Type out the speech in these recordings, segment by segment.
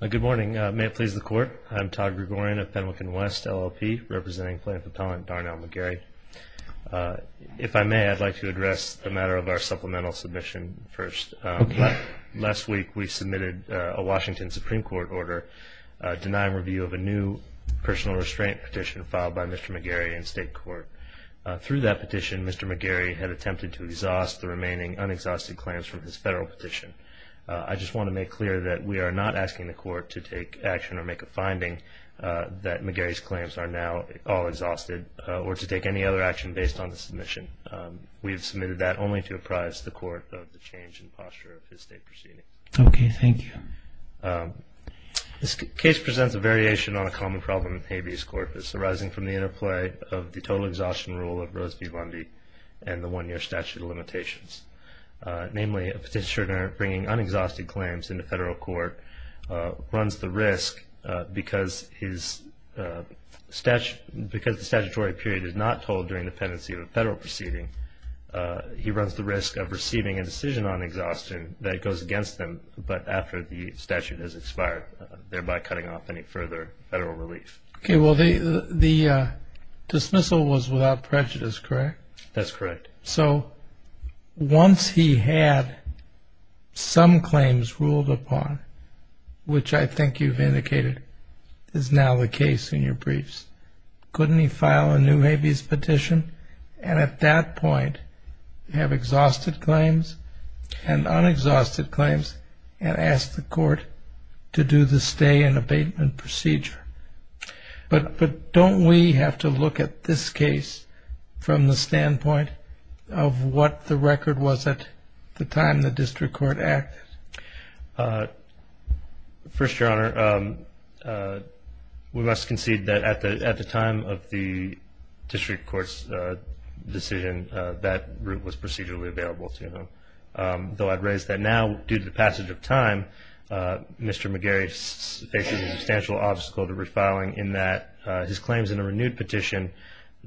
Good morning. May it please the Court. I'm Todd Gregorian of Pendleton West LLP, representing plaintiff appellant Darnell McGarry. If I may, I'd like to address the matter of our supplemental submission first. Last week we submitted a Washington Supreme Court order denying review of a new personal restraint petition filed by Mr. McGarry in state court. Through that petition, Mr. McGarry had attempted to exhaust the remaining unexhausted claims from his federal petition. I just want to make clear that we are not asking the Court to take action or make a finding that McGarry's claims are now all exhausted, or to take any other action based on the submission. We have submitted that only to apprise the Court of the change in posture of his state proceeding. Okay, thank you. This case presents a variation on a common problem with habeas corpus arising from the interplay of the total exhaustion rule of Rose v. Lundy and the one-year statute of limitations. Namely, a petitioner bringing unexhausted claims into federal court runs the risk, because the statutory period is not told during the pendency of a federal proceeding, he runs the risk of receiving a decision on exhaustion that goes against them but after the statute has expired, thereby cutting off any further federal relief. Okay, well the dismissal was without prejudice, correct? That's correct. So once he had some claims ruled upon, which I think you've indicated is now the case in your briefs, couldn't he file a new habeas petition and at that point have exhausted claims and unexhausted claims and ask the court to do the stay and abatement procedure? But don't we have to look at this case from the standpoint of what the record was at the time the district court acted? First, Your Honor, we must concede that at the time of the district court's decision, that route was procedurally available to them. Though I'd raise that now, due to the passage of time, Mr. McGarry faces a substantial obstacle to refiling in that his claims in a renewed petition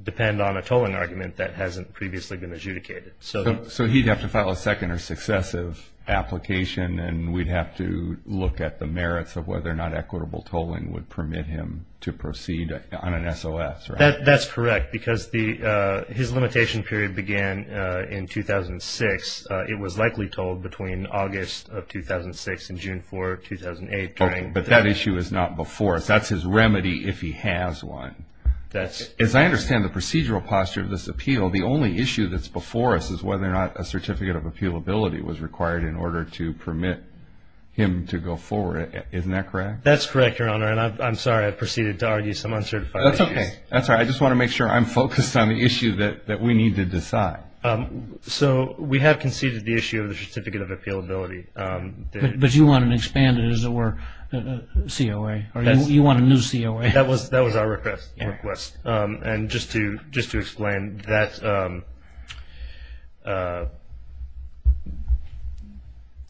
depend on a tolling argument that hasn't previously been adjudicated. So he'd have to file a second or successive application and we'd have to look at the merits of whether or not equitable tolling would permit him to proceed on an SOS, right? That's correct because his limitation period began in 2006. It was likely told between August of 2006 and June 4, 2008. But that issue is not before us. That's his remedy if he has one. As I understand the procedural posture of this appeal, the only issue that's before us is whether or not a certificate of appealability was required in order to permit him to go forward. Isn't that correct? That's correct, Your Honor, and I'm sorry. I've proceeded to argue some uncertified issues. That's okay. That's all right. I just want to make sure I'm focused on the issue that we need to decide. So we have conceded the issue of the certificate of appealability. But you want an expanded, as it were, COA. You want a new COA. That was our request. And just to explain, a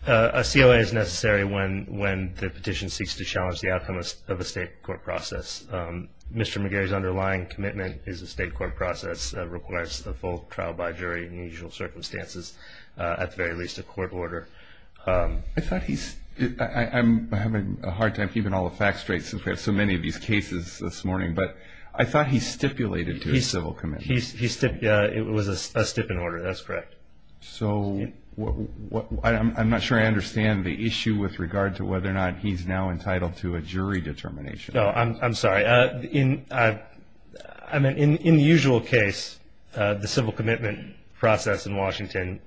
COA is necessary when the petition seeks to challenge the outcome of a state court process. Mr. McGarry's underlying commitment is a state court process that requires the full trial by jury in the usual circumstances, at the very least a court order. I'm having a hard time keeping all the facts straight since we have so many of these cases this morning. But I thought he stipulated to a civil commitment. It was a stipend order. That's correct. So I'm not sure I understand the issue with regard to whether or not he's now entitled to a jury determination. No, I'm sorry. In the usual case, the civil commitment process in Washington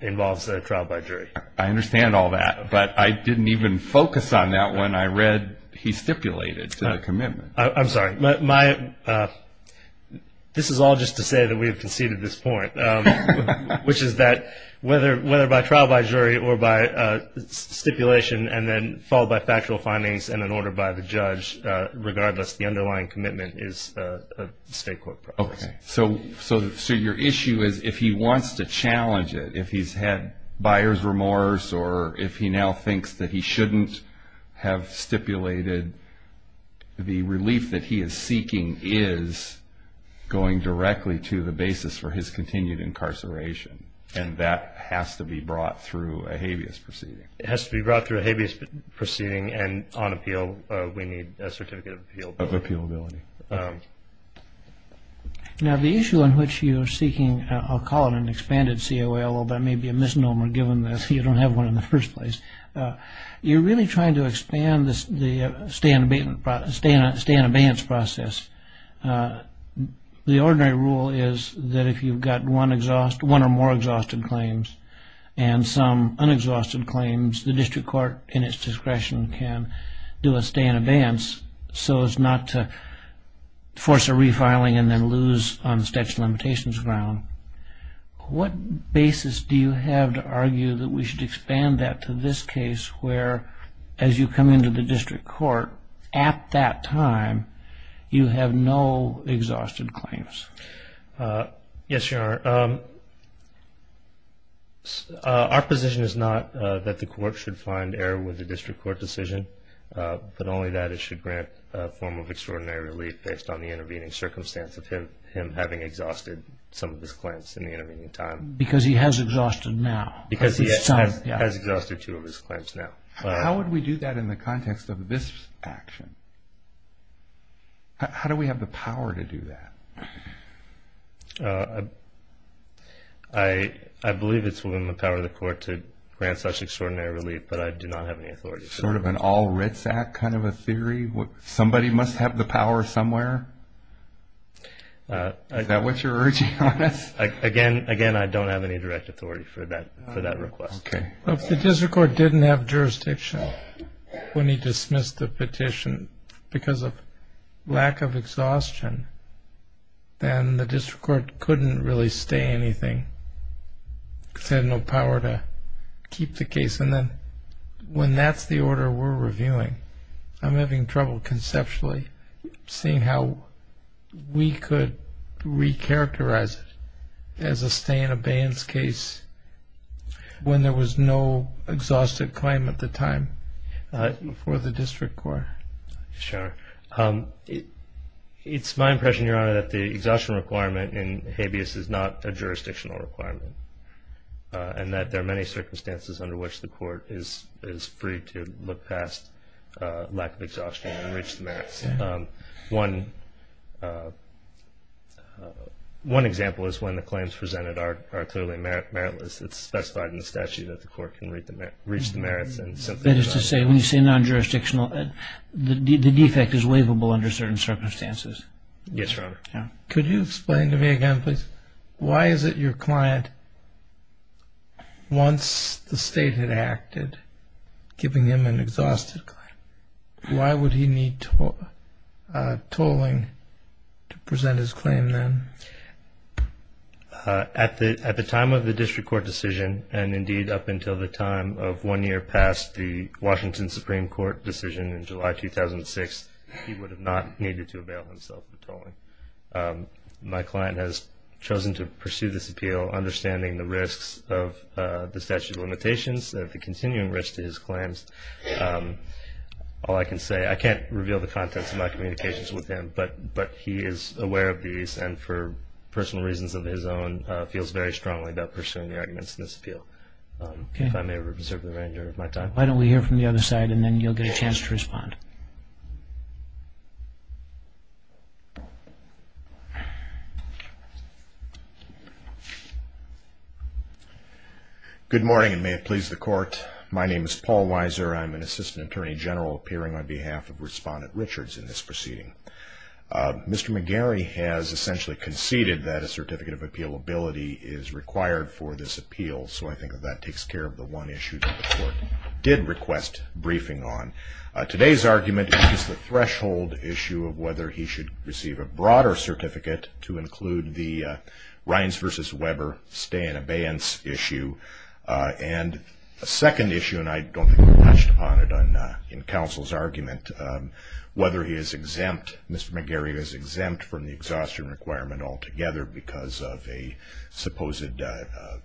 involves a trial by jury. I understand all that. But I didn't even focus on that when I read he stipulated to the commitment. I'm sorry. This is all just to say that we have conceded this point, which is that whether by trial by jury or by stipulation and then followed by factual findings and an order by the judge, regardless the underlying commitment is a state court process. Okay. So your issue is if he wants to challenge it, if he's had buyer's remorse or if he now thinks that he shouldn't have stipulated, the relief that he is seeking is going directly to the basis for his continued incarceration, and that has to be brought through a habeas proceeding. It has to be brought through a habeas proceeding, and on appeal we need a certificate of appeal. Of appealability. Now the issue on which you're seeking, I'll call it an expanded COA, although that may be a misnomer given that you don't have one in the first place. You're really trying to expand the stay in abeyance process. The ordinary rule is that if you've got one or more exhausted claims and some unexhausted claims, the district court in its discretion can do a stay in abeyance so as not to force a refiling and then lose on the statute of limitations ground. What basis do you have to argue that we should expand that to this case where as you come into the district court at that time you have no exhausted claims? Yes, Your Honor. Our position is not that the court should find error with the district court decision, but only that it should grant a form of extraordinary relief based on the intervening circumstance of him having exhausted some of his claims in the intervening time. Because he has exhausted now. Because he has exhausted two of his claims now. How would we do that in the context of this action? How do we have the power to do that? I believe it's within the power of the court to grant such extraordinary relief, but I do not have any authority. Sort of an all writs act kind of a theory? Somebody must have the power somewhere? Is that what you're urging on us? Again, I don't have any direct authority for that request. If the district court didn't have jurisdiction when he dismissed the petition because of lack of exhaustion, then the district court couldn't really stay anything. It had no power to keep the case. And then when that's the order we're reviewing, I'm having trouble conceptually seeing how we could recharacterize it as a stay in abeyance case when there was no exhausted claim at the time for the district court. Sure. It's my impression, Your Honor, that the exhaustion requirement in habeas is not a jurisdictional requirement and that there are many circumstances under which the court is free to look past lack of exhaustion and reach the merits. One example is when the claims presented are clearly meritless. It's specified in the statute that the court can reach the merits. That is to say, when you say non-jurisdictional, the defect is waivable under certain circumstances. Yes, Your Honor. Could you explain to me again, please, why is it your client, once the state had acted, giving him an exhausted claim? Why would he need tolling to present his claim then? At the time of the district court decision, and indeed up until the time of one year past the Washington Supreme Court decision in July 2006, he would have not needed to avail himself of tolling. My client has chosen to pursue this appeal understanding the risks of the statute of limitations, of the continuing risk to his claims. All I can say, I can't reveal the contents of my communications with him, but he is aware of these and, for personal reasons of his own, feels very strongly about pursuing the arguments in this appeal. If I may reserve the remainder of my time. Why don't we hear from the other side and then you'll get a chance to respond. Good morning, and may it please the Court. My name is Paul Weiser. I'm an Assistant Attorney General appearing on behalf of Respondent Richards in this proceeding. Mr. McGarry has essentially conceded that a certificate of appealability is required for this appeal, so I think that that takes care of the one issue that the Court did request briefing on. Today's argument is that the plaintiff, The first argument is the threshold issue of whether he should receive a broader certificate to include the Rines v. Weber stay in abeyance issue. And the second issue, and I don't think we've touched upon it in counsel's argument, whether he is exempt, Mr. McGarry is exempt from the exhaustion requirement altogether because of a supposed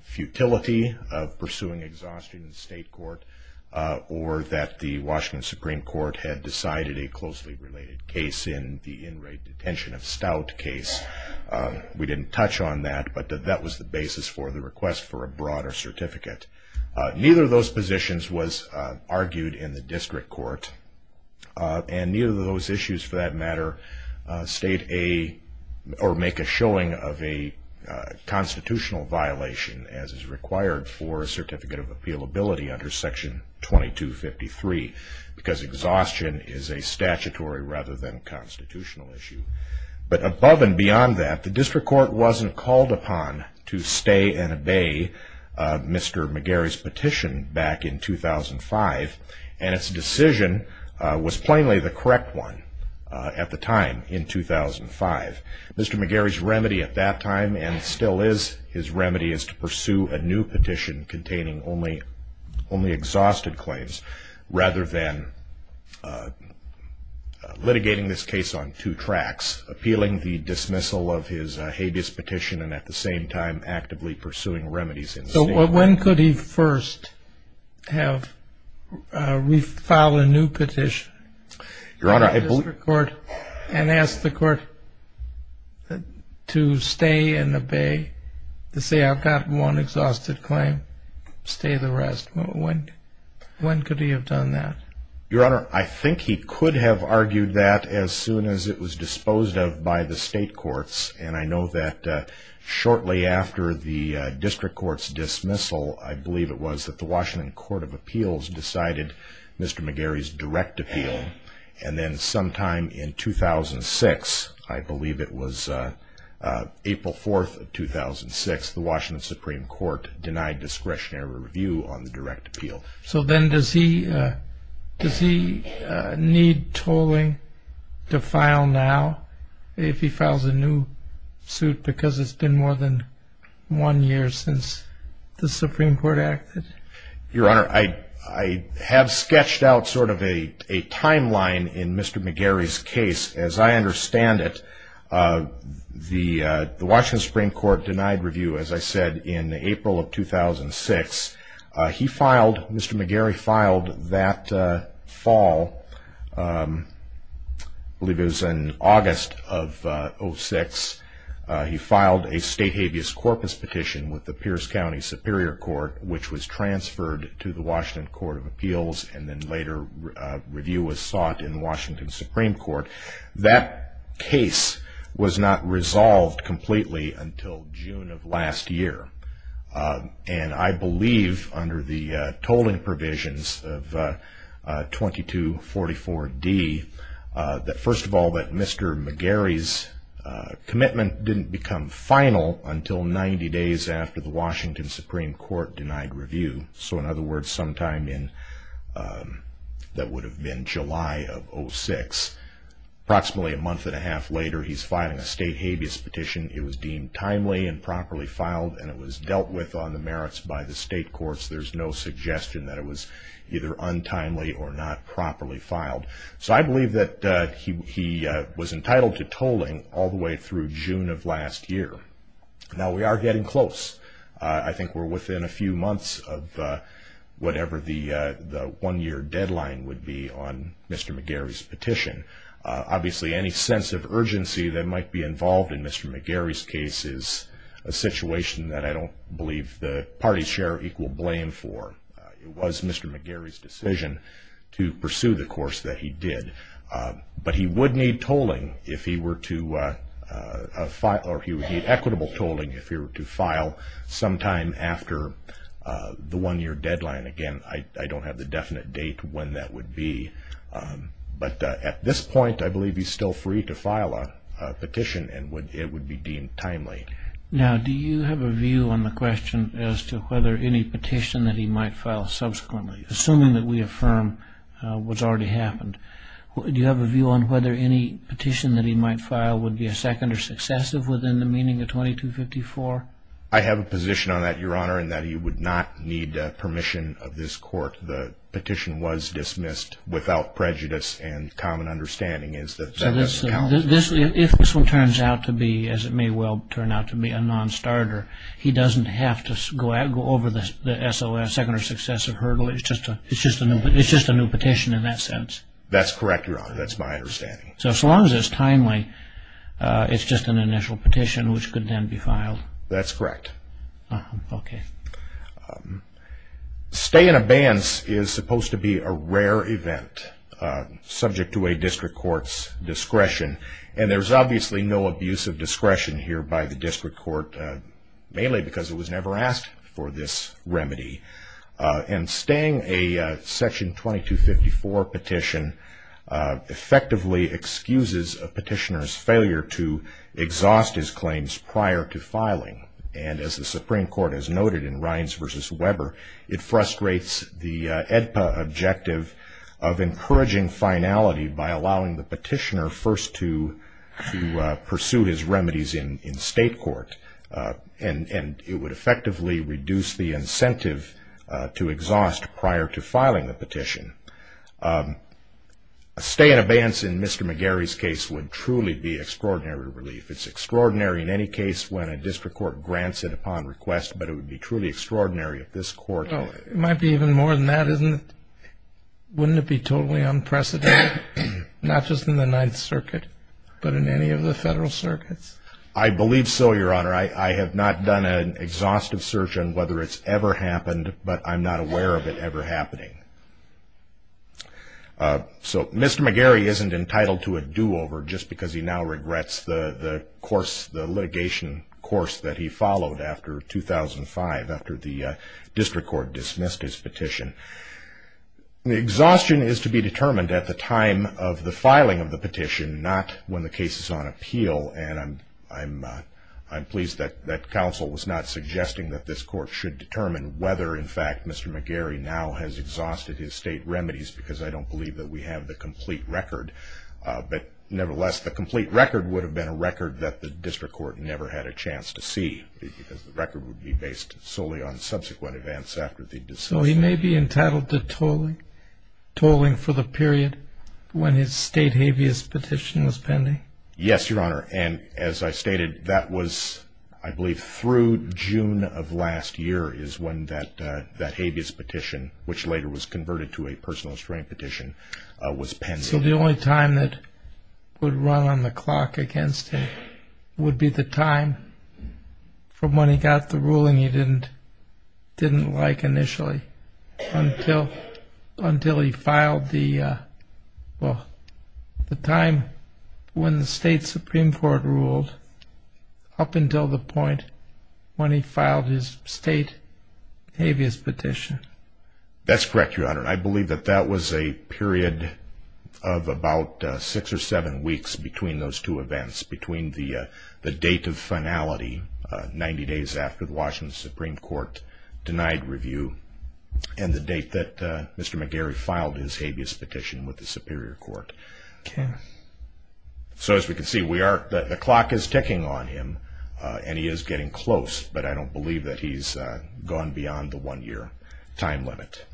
futility of pursuing exhaustion in state court or that the Washington Supreme Court had decided a closely related case in the in-rate detention of Stout case. We didn't touch on that, but that was the basis for the request for a broader certificate. Neither of those positions was argued in the district court, and neither of those issues, for that matter, make a showing of a constitutional violation as is required for a certificate of appealability under Section 2253 because exhaustion is a statutory rather than constitutional issue. But above and beyond that, the district court wasn't called upon to stay and obey Mr. McGarry's petition back in 2005, and its decision was plainly the correct one at the time in 2005. Mr. McGarry's remedy at that time, and still is his remedy, is to pursue a new petition containing only exhausted claims rather than litigating this case on two tracks, appealing the dismissal of his habeas petition and at the same time actively pursuing remedies in state court. So when could he first have refiled a new petition to the district court and ask the court to stay and obey, to say I've got one exhausted claim, stay the rest? When could he have done that? Your Honor, I think he could have argued that as soon as it was disposed of by the state courts, and I know that shortly after the district court's dismissal, I believe it was that the Washington Court of Appeals decided Mr. McGarry's direct appeal, and then sometime in 2006, I believe it was April 4th of 2006, the Washington Supreme Court denied discretionary review on the direct appeal. So then does he need tolling to file now if he files a new suit because it's been more than one year since the Supreme Court acted? Your Honor, I have sketched out sort of a timeline in Mr. McGarry's case. As I understand it, the Washington Supreme Court denied review, as I said, in April of 2006. He filed, Mr. McGarry filed that fall, I believe it was in August of 2006, he filed a state habeas corpus petition with the Pierce County Superior Court, which was transferred to the Washington Court of Appeals, and then later review was sought in the Washington Supreme Court. That case was not resolved completely until June of last year, and I believe under the tolling provisions of 2244D, that first of all that Mr. McGarry's commitment didn't become final until 90 days after the Washington Supreme Court denied review. So in other words, sometime in, that would have been July of 06, approximately a month and a half later, he's filing a state habeas petition. It was deemed timely and properly filed, and it was dealt with on the merits by the state courts. There's no suggestion that it was either untimely or not properly filed. So I believe that he was entitled to tolling all the way through June of last year. Now we are getting close. I think we're within a few months of whatever the one-year deadline would be on Mr. McGarry's petition. Obviously any sense of urgency that might be involved in Mr. McGarry's case is a situation that I don't believe the parties share equal blame for. It was Mr. McGarry's decision to pursue the course that he did. But he would need tolling if he were to file, or he would need equitable tolling if he were to file sometime after the one-year deadline. Again, I don't have the definite date when that would be, but at this point I believe he's still free to file a petition and it would be deemed timely. Now do you have a view on the question as to whether any petition that he might file subsequently, assuming that we affirm what's already happened, do you have a view on whether any petition that he might file would be a second or successive within the meaning of 2254? I have a position on that, Your Honor, in that he would not need permission of this court. The petition was dismissed without prejudice and common understanding. If this one turns out to be, as it may well turn out to be, a non-starter, he doesn't have to go over the SOS, second or successive hurdle. It's just a new petition in that sense. That's correct, Your Honor. That's my understanding. So as long as it's timely, it's just an initial petition which could then be filed. That's correct. Okay. Staying abeyance is supposed to be a rare event subject to a district court's discretion. And there's obviously no abuse of discretion here by the district court, mainly because it was never asked for this remedy. And staying a section 2254 petition effectively excuses a petitioner's failure to exhaust his claims prior to filing. And as the Supreme Court has noted in Rines v. Weber, it frustrates the AEDPA objective of encouraging finality by allowing the petitioner first to pursue his remedies in state court. And it would effectively reduce the incentive to exhaust prior to filing the petition. A stay in abeyance in Mr. McGarry's case would truly be extraordinary relief. It's extraordinary in any case when a district court grants it upon request, but it would be truly extraordinary if this court- Well, it might be even more than that, isn't it? Wouldn't it be totally unprecedented, not just in the Ninth Circuit, but in any of the federal circuits? I believe so, Your Honor. I have not done an exhaustive search on whether it's ever happened, but I'm not aware of it ever happening. So Mr. McGarry isn't entitled to a do-over just because he now regrets the litigation course that he followed after 2005, after the district court dismissed his petition. Exhaustion is to be determined at the time of the filing of the petition, not when the case is on appeal. And I'm pleased that counsel was not suggesting that this court should determine whether, in fact, Mr. McGarry now has exhausted his state remedies because I don't believe that we have the complete record. But nevertheless, the complete record would have been a record that the district court never had a chance to see because the record would be based solely on subsequent events after the dismissal. So he may be entitled to tolling for the period when his state habeas petition was pending? Yes, Your Honor. And as I stated, that was, I believe, through June of last year is when that habeas petition, which later was converted to a personal restraint petition, was pending. So the only time that would run on the clock against him would be the time from when he got the ruling he didn't like initially until he filed the time when the state Supreme Court ruled up until the point when he filed his state habeas petition. That's correct, Your Honor. I believe that that was a period of about six or seven weeks between those two events, between the date of finality, 90 days after the Washington Supreme Court denied review, and the date that Mr. McGarry filed his habeas petition with the Superior Court. Okay. So as we can see, the clock is ticking on him and he is getting close, but I don't believe that he's gone beyond the one-year time limit.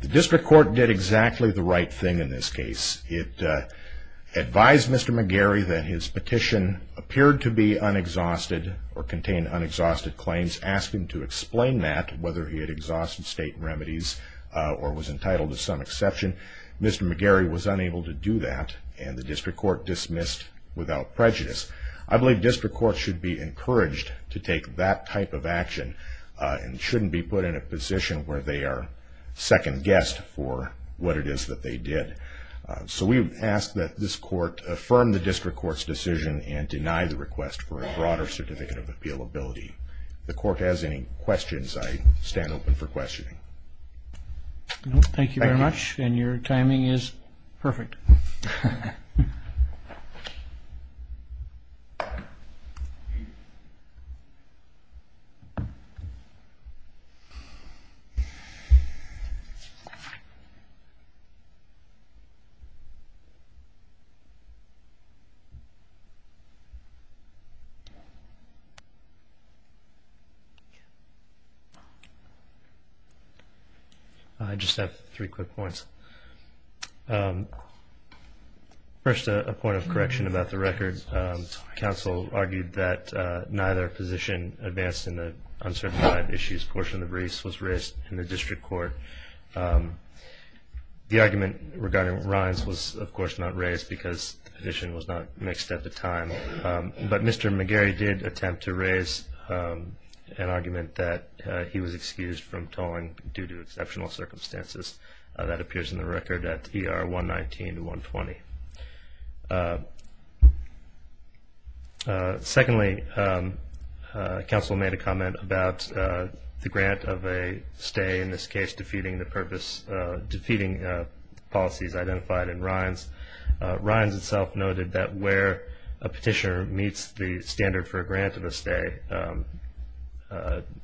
The district court did exactly the right thing in this case. It advised Mr. McGarry that his petition appeared to be unexhausted or contain unexhausted claims, asked him to explain that, whether he had exhausted state remedies or was entitled to some exception. Mr. McGarry was unable to do that, and the district court dismissed without prejudice. I believe district courts should be encouraged to take that type of action and shouldn't be put in a position where they are second-guessed for what it is that they did. So we ask that this court affirm the district court's decision and deny the request for a broader certificate of appealability. If the court has any questions, I stand open for questioning. Thank you very much, and your timing is perfect. I just have three quick points. First, a point of correction about the record. Council argued that neither position advanced in the uncertified issues portion of the briefs was raised in the district court. The argument regarding Ryan's was, of course, not raised because the petition was not mixed at the time, but Mr. McGarry did attempt to raise an argument that he was excused from tolling due to exceptional circumstances. That appears in the record at ER 119 to 120. Secondly, council made a comment about the grant of a stay, in this case, defeating the policies identified in Ryan's. Ryan's itself noted that where a petitioner meets the standard for a grant of a stay,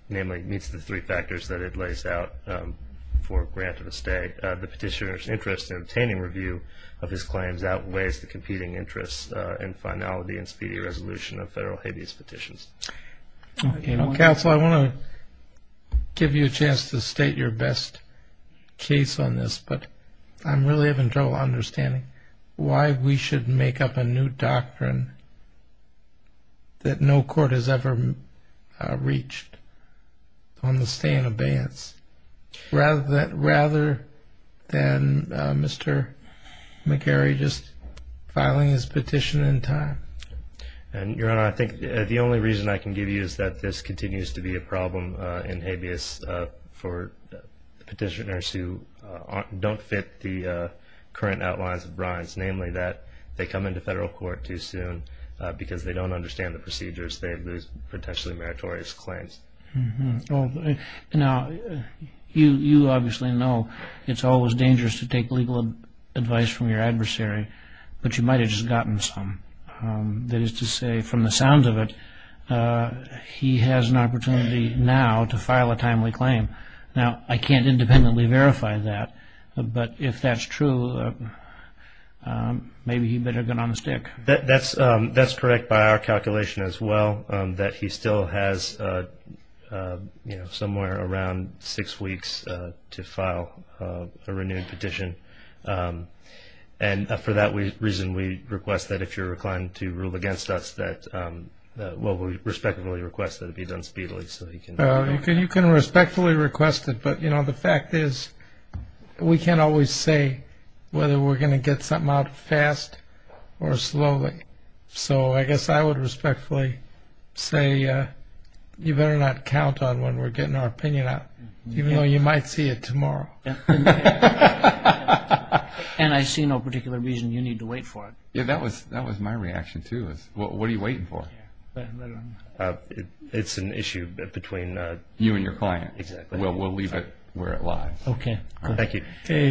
namely meets the three factors that it lays out for a grant of a stay, the petitioner's interest in obtaining review of his claims outweighs the competing interests and finality and speedy resolution of federal habeas petitions. Council, I want to give you a chance to state your best case on this, but I'm really having trouble understanding why we should make up a new doctrine that no court has ever reached on the stay and abeyance. Rather than Mr. McGarry just filing his petition in time. Your Honor, I think the only reason I can give you is that this continues to be a problem in habeas for petitioners who don't fit the current outlines of Ryan's, namely that they come into federal court too soon because they don't understand the procedures. They lose potentially meritorious claims. Now, you obviously know it's always dangerous to take legal advice from your adversary, but you might have just gotten some. That is to say, from the sounds of it, he has an opportunity now to file a timely claim. Now, I can't independently verify that, but if that's true, maybe he better get on the stick. That's correct by our calculation as well, that he still has somewhere around six weeks to file a renewed petition. And for that reason, we request that if you're inclined to rule against us, that we respectfully request that it be done speedily. You can respectfully request it, but the fact is we can't always say whether we're going to get something out fast or slowly. So I guess I would respectfully say you better not count on when we're getting our opinion out, even though you might see it tomorrow. And I see no particular reason you need to wait for it. Yeah, that was my reaction too. What are you waiting for? It's an issue between you and your client. We'll leave it where it lies. Okay. Thank you.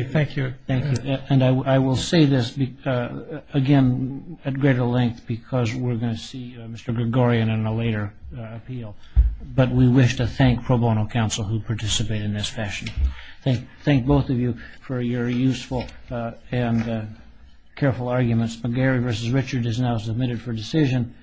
Thank you. And I will say this, again, at greater length, because we're going to see Mr. Gregorian in a later appeal, but we wish to thank pro bono counsel who participated in this session. Thank both of you for your useful and careful arguments. McGarry v. Richard is now submitted for decision.